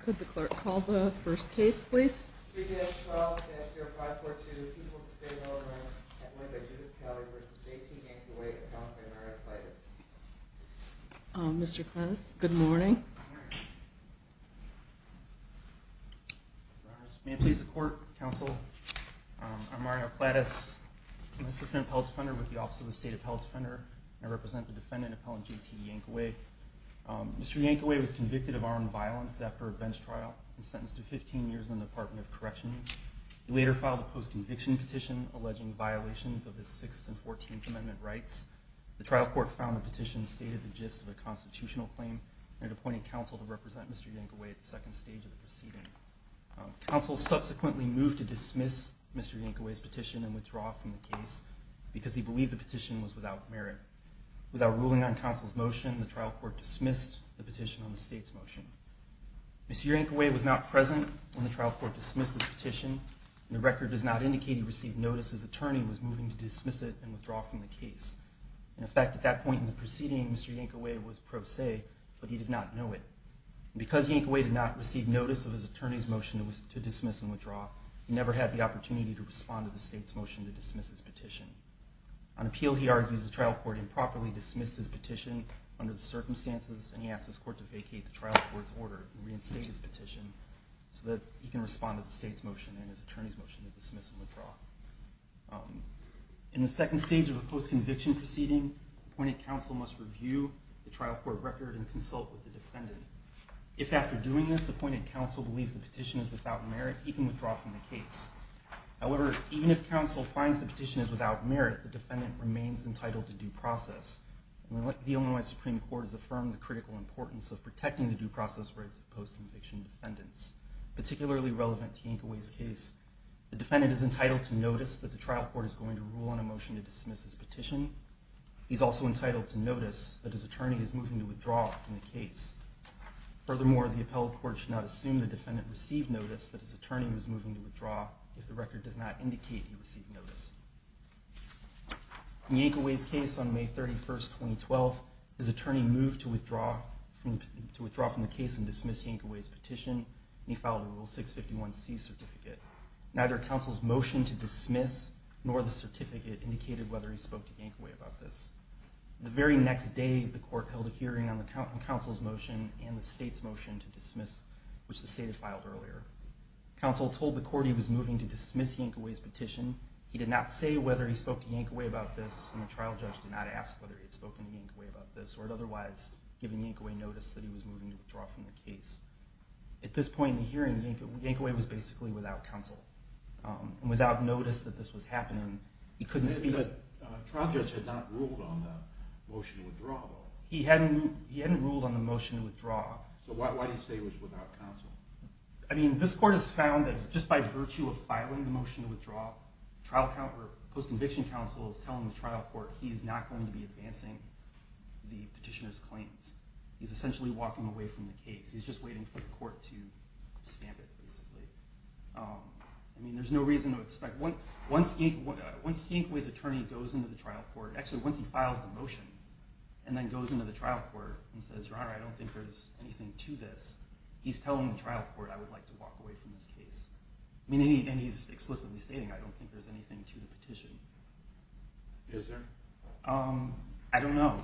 Could the clerk call the first case please. Mr. Cletus, good morning. May it please the court, counsel. I'm Mario Cletus. I'm an assistant appellate defender with the Office of the State Appellate Defender. I represent the defendant, Appellant J.T. Yankaway. Mr. Yankaway was sentenced to 15 years in the Department of Corrections. He later filed a post-conviction petition alleging violations of his 6th and 14th Amendment rights. The trial court found the petition stated the gist of a constitutional claim and appointed counsel to represent Mr. Yankaway at the second stage of the proceeding. Counsel subsequently moved to dismiss Mr. Yankaway's petition and withdraw from the case because he believed the petition was without merit. Without ruling on counsel's motion, the trial court dismissed the petition on the state's motion. Mr. Yankaway was not present when the trial court dismissed his petition, and the record does not indicate he received notice his attorney was moving to dismiss it and withdraw from the case. In effect, at that point in the proceeding, Mr. Yankaway was pro se, but he did not know it. Because Yankaway did not receive notice of his attorney's motion to dismiss and withdraw, he never had the opportunity to respond to the state's motion to dismiss his petition. On appeal, he argues, the trial court improperly dismissed his petition under the circumstances, and he asked his court to vacate the trial court's order and reinstate his petition so that he can respond to the state's motion and his attorney's motion to dismiss and withdraw. In the second stage of a post-conviction proceeding, appointed counsel must review the trial court record and consult with the defendant. If after doing this, appointed counsel believes the petition is without merit, he can withdraw from the case. However, even if counsel finds the petition is without merit, the defendant remains entitled to due process. The Illinois Supreme Court has affirmed the critical importance of protecting the due process rights of post-conviction defendants, particularly relevant to Yankaway's case. The defendant is entitled to notice that the trial court is going to rule on a motion to dismiss his petition. He's also entitled to notice that his attorney is moving to withdraw from the case. Furthermore, the appealed court should not assume the defendant received notice that his attorney was moving to withdraw if the record does not indicate he withdrew from the case and dismissed Yankaway's petition, and he filed a Rule 651C certificate. Neither counsel's motion to dismiss nor the certificate indicated whether he spoke to Yankaway about this. The very next day, the court held a hearing on the counsel's motion and the state's motion to dismiss, which the state had filed earlier. Counsel told the court he was moving to dismiss Yankaway's petition. He did not say whether he spoke to Yankaway about this, and the trial judge did not ask whether he had spoken to Yankaway about this or had otherwise given Yankaway notice that he was moving to withdraw from the case. At this point in the hearing, Yankaway was basically without counsel. Without notice that this was happening, he couldn't speak. The trial judge had not ruled on the motion to withdraw? He hadn't ruled on the motion to withdraw. So why do you say he was without counsel? I mean, this court has found that just by virtue of filing the motion to withdraw, the post-conviction counsel is telling the trial court he is not going to be advancing the petitioner's claims. He's essentially walking away from the case. He's just waiting for the court to stamp it, basically. I mean, there's no reason to expect. Once Yankaway's attorney goes into the trial court, actually, once he files the motion and then goes into the trial court and says, your honor, I don't think there's anything to this, he's telling the trial court I would like to walk away from this case. I mean, and he's explicitly stating I don't think there's anything to the petition. Is there? I don't know.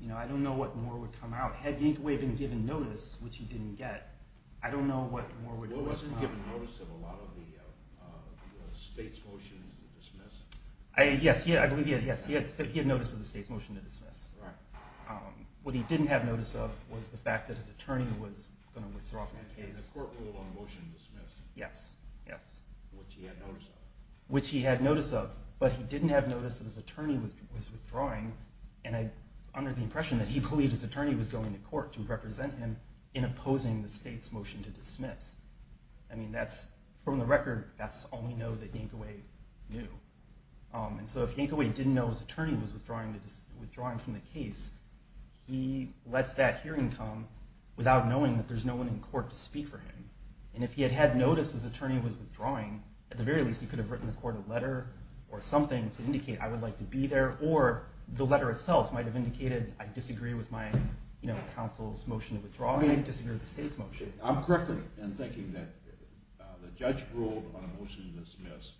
You know, I don't know what more would come out. Had Yankaway been given notice, which he didn't get, I don't know what more would come out. Well, wasn't he given notice of a lot of the state's motion to dismiss? Yes, he had notice of the state's motion to dismiss. What he didn't have notice of was the fact that his attorney was going to withdraw from the case. And the court ruled on the motion to dismiss? Yes. Which he had notice of. Which he had notice of. But he didn't have notice that his attorney was withdrawing, and I under the impression that he believed his attorney was going to court to represent him in opposing the state's motion to dismiss. I mean, that's from the record, that's all we know that Yankaway knew. And so if Yankaway didn't know his attorney was withdrawing from the case, he lets that hearing come without knowing that there's no one in court to speak for him. And if he had had notice his attorney was withdrawing, at the very least he could have written the court a letter or something to indicate I would like to be there, or the letter itself might have indicated I disagree with my, you know, counsel's motion to withdraw and I disagree with the state's motion. I'm correct in thinking that the judge ruled on a motion to dismiss.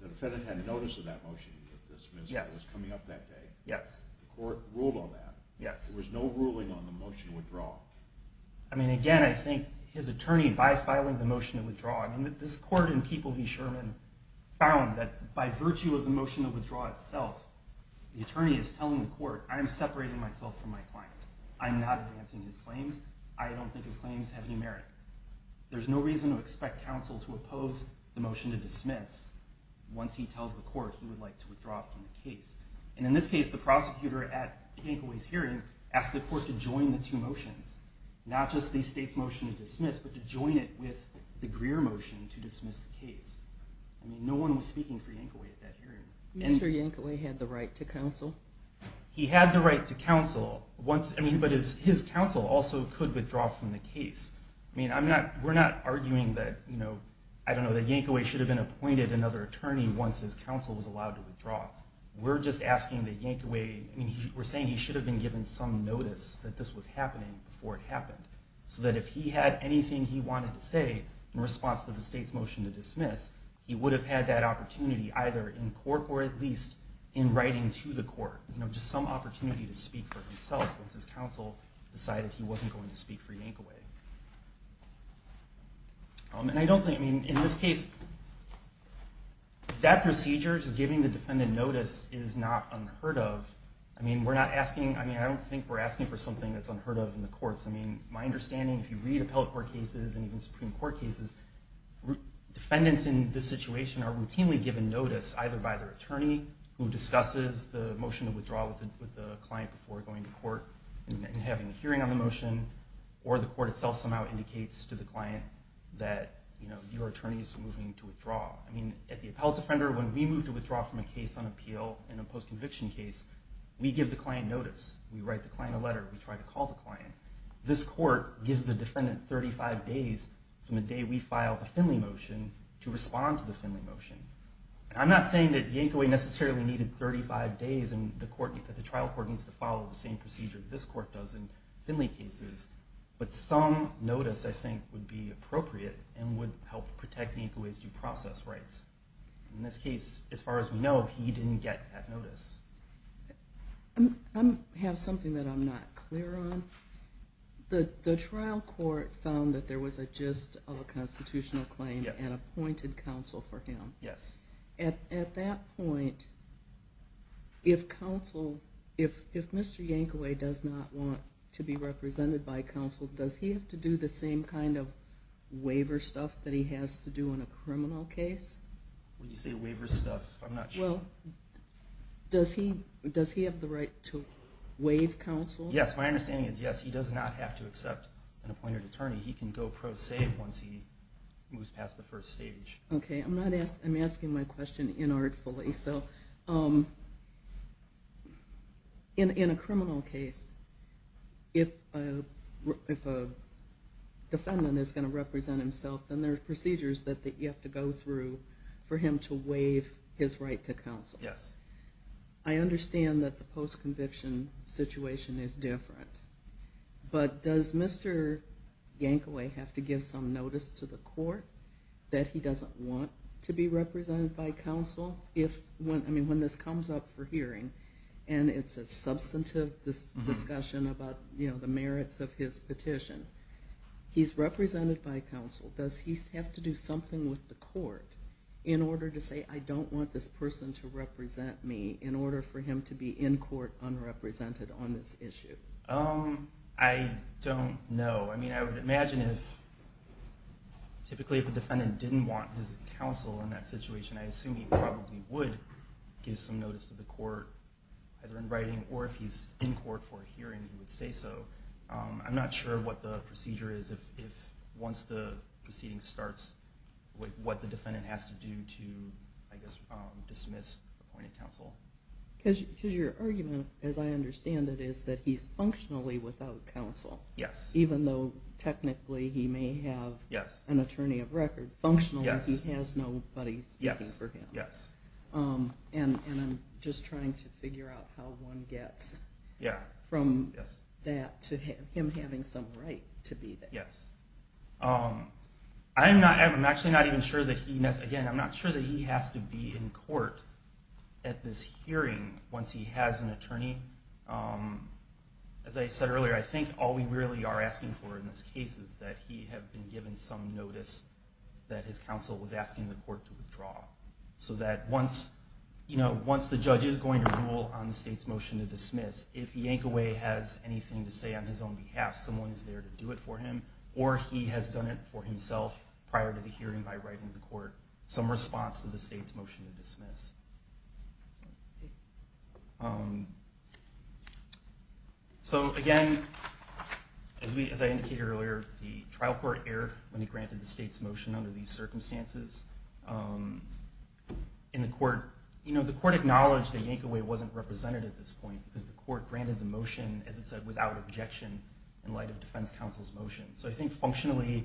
The defendant had notice of that motion to dismiss that was coming up that day. The court ruled on that. There was no ruling on the motion to withdraw. I mean, again, I think his attorney, by filing the motion to withdraw, I mean, this court and people he sure found that by virtue of the motion to withdraw itself, the attorney is telling the court, I'm separating myself from my client. I'm not advancing his claims. I don't think his claims have any merit. There's no reason to expect counsel to oppose the motion to dismiss once he tells the court he would like to withdraw from the case. And in this case, the prosecutor at Yankaway's hearing asked the court to join the two motions, not just the state's motion to dismiss, but to join it with the Greer motion to dismiss the case. I mean, no one was speaking for Yankaway at that hearing. Mr. Yankaway had the right to counsel? He had the right to counsel, but his counsel also could withdraw from the case. I mean, we're not arguing that, I don't know, that Yankaway should have been appointed another attorney once his counsel was allowed to withdraw. We're just asking that Yankaway, I mean, we're saying he should have been given some notice that this was happening before it happened, so that if he had anything he wanted to say in response to the state's motion to dismiss, he would have had that opportunity either in court or at least in writing to the court, you know, just some opportunity to speak for himself once his counsel decided he wasn't going to speak for Yankaway. And I don't think, I mean, in this case, that procedure, just giving the defendant notice, is not unheard of. I mean, we're not asking, I mean, I don't think we're asking for something that's unheard of in the courts. I mean, my understanding, if you read appellate court cases and even Supreme Court cases, defendants in this situation are routinely given notice either by their attorney, who discusses the motion to withdraw with the client before going to court and having a hearing on the motion, or the court itself somehow indicates to the client that, you know, your attorney is moving to withdraw. I mean, at the appellate defender, when we move to withdraw from a case on appeal in a post-conviction case, we give the client notice. We write the client a letter. We try to call the client. This court gives the defendant 35 days from the day we filed the Finley motion to respond to the Finley motion. And I'm not saying that Yankaway necessarily needed 35 days and that the trial court needs to follow the same procedure that this court does in Finley cases. But some notice, I think, would be appropriate and would help protect Yankaway's due process rights. In this case, as far as we know, he didn't get that notice. I have something that I'm not clear on. The trial court found that there was a gist of a constitutional claim and appointed counsel for him. At that point, if Mr. Yankaway does not want to be represented by counsel, does he have to do the same kind of waiver stuff that he has to do in a criminal case? When you say waiver stuff, I'm not sure. Well, does he have the right to waive counsel? Yes, my understanding is yes. He does not have to accept an appointed attorney. He can go pro se once he moves past the first stage. Okay, I'm asking my question inartfully. In a criminal case, if a defendant is going to represent himself, then there are procedures that you have to go through for him to waive his right to counsel. Yes. I understand that the post-conviction situation is different. But does Mr. Yankaway have to give some notice to the court that he doesn't want to be represented by counsel? When this comes up for hearing, and it's a substantive discussion about the merits of his petition, he's represented by counsel. Does he have to do something with the court in order to say, I don't want this person to represent me, in order for him to be in court, unrepresented on this issue? I don't know. I mean, I would imagine, typically, if a defendant didn't want his counsel in that situation, I assume he probably would give some notice to the court, either in writing or if he's in court for a hearing, he would say so. I'm not sure what the procedure is, once the proceeding starts, what the defendant has to do to, I guess, dismiss appointed counsel. Because your argument, as I understand it, is that he's functionally without counsel. Yes. Even though, technically, he may have an attorney of record. Functionally, he has nobody speaking for him. Yes. And I'm just trying to figure out how one gets from that to him having some right to be there. Yes. I'm actually not even sure that he, again, I'm not sure that he has to be in court at this hearing, once he has an attorney. As I said earlier, I think all we really are asking for in this case is that he have been given some notice that his counsel was asking the court to withdraw. So that once the judge is going to rule on the state's motion to dismiss, if Yankaway has anything to say on his own behalf, someone is there to do it for him, or he has done it for himself prior to the hearing by writing to the court, some response to the state's motion to dismiss. So, again, as I indicated earlier, the trial court erred when it granted the state's motion under these circumstances. The court acknowledged that Yankaway wasn't represented at this point, because the court granted the motion, as it said, without objection in light of defense counsel's motion. So I think, functionally,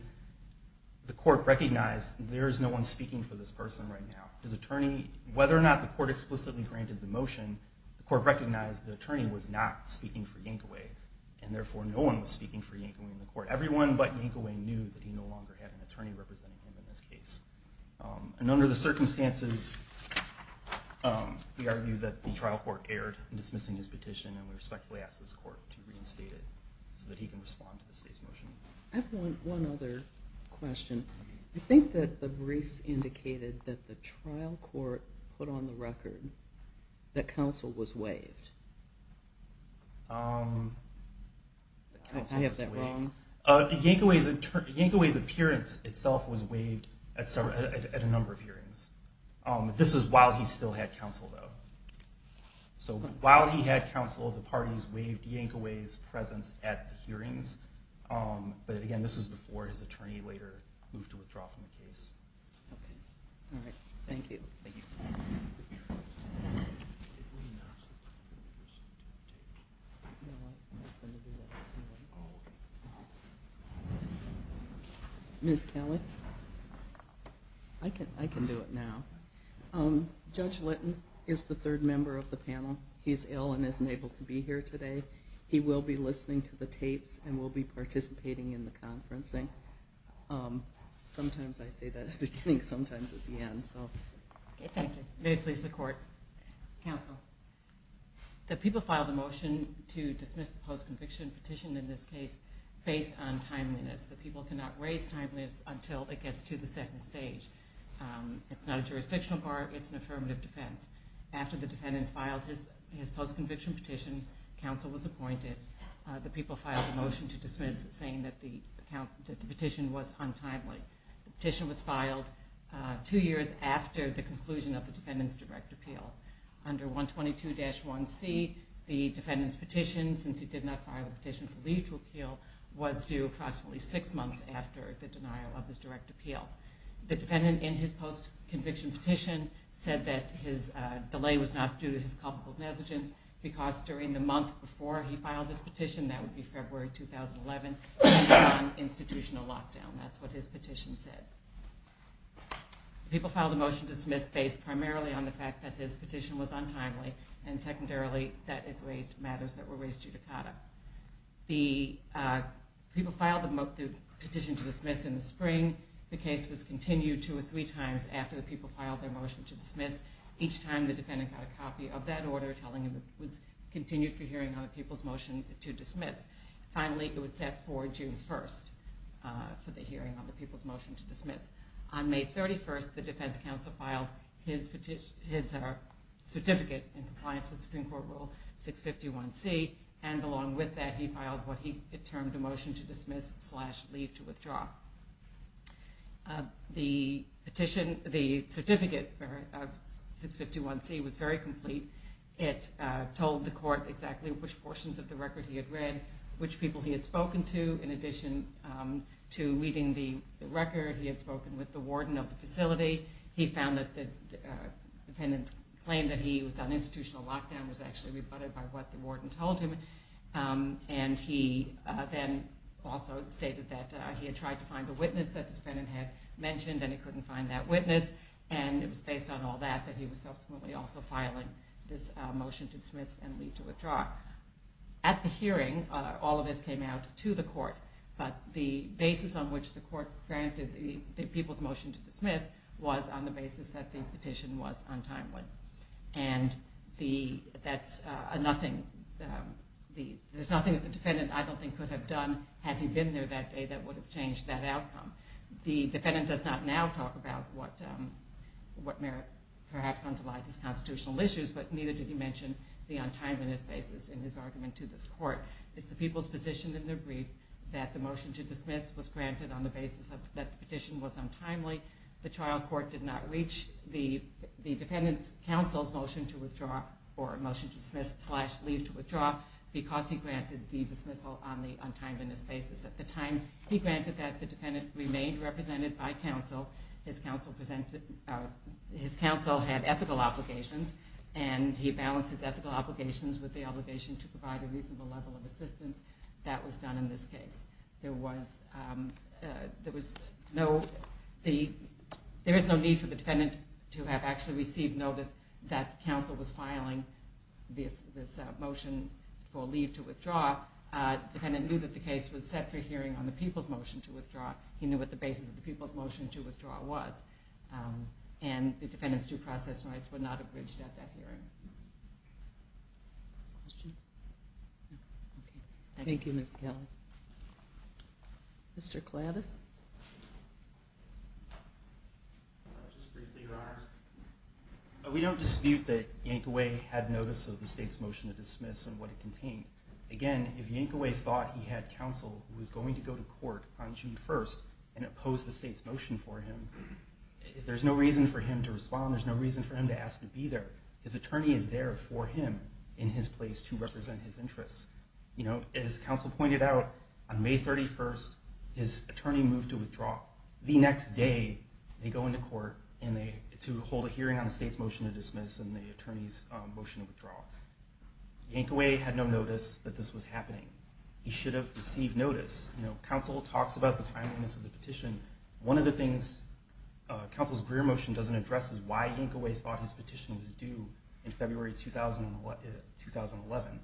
the court recognized there is no one speaking for this person right now. Whether or not the court explicitly granted the motion, the court recognized the attorney was not speaking for Yankaway, and therefore no one was speaking for Yankaway in the court. Everyone but Yankaway knew that he no longer had an attorney representing him in this case. And under the circumstances, we argue that the trial court erred in dismissing his petition, and we respectfully ask this court to reinstate it so that he can respond to the state's motion. I have one other question. I think that the briefs indicated that the trial court put on the record that counsel was waived. I have that wrong? Yankaway's appearance itself was waived at a number of hearings. This was while he still had counsel, though. So while he had counsel, the parties waived Yankaway's presence at the hearings. But again, this was before his attorney later moved to withdraw from the case. Okay. All right. Thank you. Ms. Kelly? I can do it now. Judge Litton is the third member of the panel. He's ill and isn't able to be here today. He will be listening to the tapes and will be participating in the conferencing. Sometimes I say that at the beginning, sometimes at the end. Thank you. May it please the court. Counsel. The people filed a motion to dismiss the post-conviction petition in this case based on timeliness. The people cannot raise timeliness until it gets to the second stage. It's not a jurisdictional bar. It's an affirmative defense. After the defendant filed his post-conviction petition, counsel was appointed. The people filed a motion to dismiss, saying that the petition was untimely. The petition was filed two years after the conclusion of the defendant's direct appeal. Under 122-1C, the defendant's petition, since he did not file a petition for legal appeal, was due approximately six months after the denial of his direct appeal. The defendant in his post-conviction petition said that his delay was not due to his culpable negligence because during the month before he filed his petition, that would be February 2011, he was on institutional lockdown. That's what his petition said. The people filed a motion to dismiss based primarily on the fact that his petition was untimely and secondarily that it raised matters that were raised judicata. The people filed the petition to dismiss in the spring. The case was continued two or three times after the people filed their motion to dismiss. Each time, the defendant got a copy of that order telling him it was continued for hearing on the people's motion to dismiss. Finally, it was set for June 1st for the hearing on the people's motion to dismiss. On May 31st, the defense counsel filed his certificate in compliance with Supreme Court Rule 651C and along with that, he filed what he termed a motion to dismiss slash leave to withdraw. The certificate of 651C was very complete. It told the court exactly which portions of the record he had read, which people he had spoken to in addition to reading the record. He had spoken with the warden of the facility. He found that the defendant's claim that he was on institutional lockdown was actually rebutted by what the warden told him. He then also stated that he had tried to find a witness that the defendant had mentioned and he couldn't find that witness. It was based on all that that he was subsequently also filing this motion to dismiss and leave to withdraw. At the hearing, all of this came out to the court, but the basis on which the court granted the people's motion to dismiss was on the basis that the petition was untimely. There's nothing that the defendant, I don't think, could have done had he been there that day that would have changed that outcome. The defendant does not now talk about what merit perhaps underlies his constitutional issues, but neither did he mention the untimeliness basis in his argument to this court. It's the people's position in their brief that the motion to dismiss was granted on the basis that the petition was untimely. The trial court did not reach. The defendant's counsel's motion to withdraw or motion to dismiss slash leave to withdraw because he granted the dismissal on the untimeliness basis. At the time, he granted that the defendant remained represented by counsel. His counsel had ethical obligations, and he balanced his ethical obligations with the obligation to provide a reasonable level of assistance. That was done in this case. There was no need for the defendant to have actually received notice that counsel was filing this motion for leave to withdraw. The defendant knew that the case was set for hearing on the people's motion to withdraw. He knew what the basis of the people's motion to withdraw was, and the defendant's due process rights were not abridged at that hearing. Questions? No? Thank you, Ms. Kelly. Mr. Kladdis? Just briefly, Your Honors. We don't dispute that Yankaway had notice of the state's motion to dismiss and what it contained. Again, if Yankaway thought he had counsel who was going to go to court on June 1st and oppose the state's motion for him, there's no reason for him to respond. There's no reason for him to ask to be there. His attorney is there for him in his place to represent his interests. As counsel pointed out, on May 31st, his attorney moved to withdraw. The next day, they go into court to hold a hearing on the state's motion to dismiss and the attorney's motion to withdraw. Yankaway had no notice that this was happening. He should have received notice. Counsel talks about the timeliness of the petition. One of the things Counsel's Greer motion doesn't address is why Yankaway thought his petition was due in February 2011.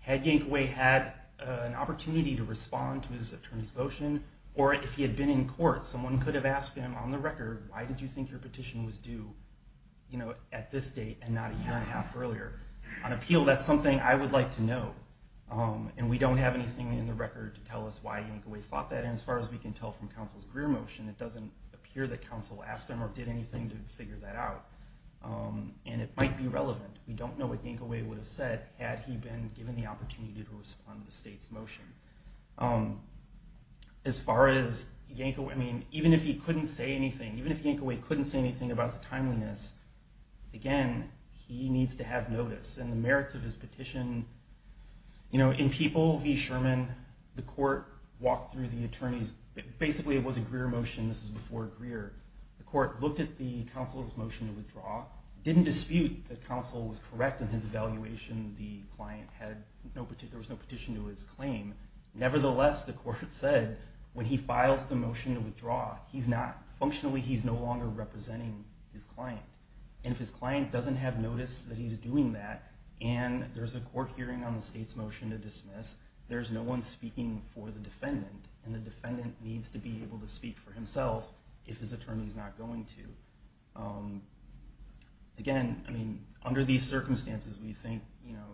Had Yankaway had an opportunity to respond to his attorney's motion, or if he had been in court, someone could have asked him on the record, why did you think your petition was due at this date and not a year and a half earlier? On appeal, that's something I would like to know, and we don't have anything in the record to tell us why Yankaway thought that. And as far as we can tell from Counsel's Greer motion, it doesn't appear that Counsel asked him or did anything to figure that out. And it might be relevant. We don't know what Yankaway would have said had he been given the opportunity to respond to the state's motion. As far as Yankaway, I mean, even if he couldn't say anything, even if Yankaway couldn't say anything about the timeliness, again, he needs to have notice. And the merits of his petition, you know, in People v. Sherman, the court walked through the attorney's, basically it was a Greer motion. This was before Greer. The court looked at the Counsel's motion to withdraw, didn't dispute that Counsel was correct in his evaluation. The client had no, there was no petition to his claim. Nevertheless, the court said when he files the motion to withdraw, he's not, functionally he's no longer representing his client. And if his client doesn't have notice that he's doing that, and there's a court hearing on the state's motion to dismiss, there's no one speaking for the defendant. And the defendant needs to be able to speak for himself if his attorney's not going to. Again, I mean, under these circumstances, we think, you know,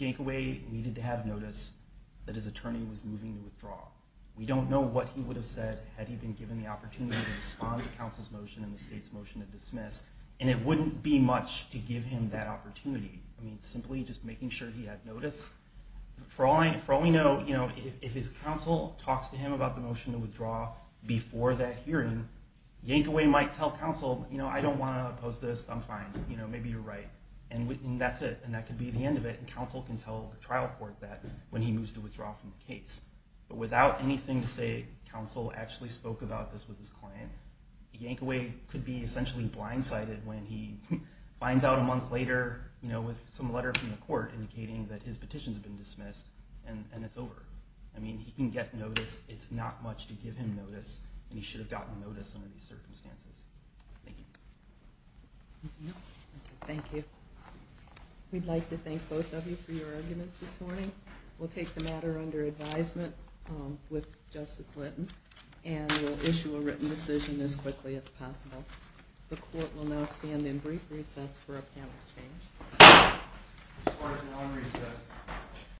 Yankaway needed to have notice that his attorney was moving to withdraw. We don't know what he would have said had he been given the opportunity to respond to Counsel's motion and the state's motion to dismiss. And it wouldn't be much to give him that opportunity. I mean, simply just making sure he had notice. For all we know, you know, if his Counsel talks to him about the motion to withdraw before that hearing, Yankaway might tell Counsel, you know, I don't want to oppose this. I'm fine. You know, maybe you're right. And that's it. And that could be the end of it. And Counsel can tell the trial court that when he moves to withdraw from the case. But without anything to say, Counsel actually spoke about this with his client, and Yankaway could be essentially blindsided when he finds out a month later, you know, with some letter from the court indicating that his petition's been dismissed, and it's over. I mean, he can get notice. It's not much to give him notice, and he should have gotten notice under these circumstances. Thank you. Thank you. We'd like to thank both of you for your arguments this morning. We'll take the matter under advisement with Justice Linton, and we'll issue a written decision as quickly as possible. The court will now stand in brief recess for a panel to change.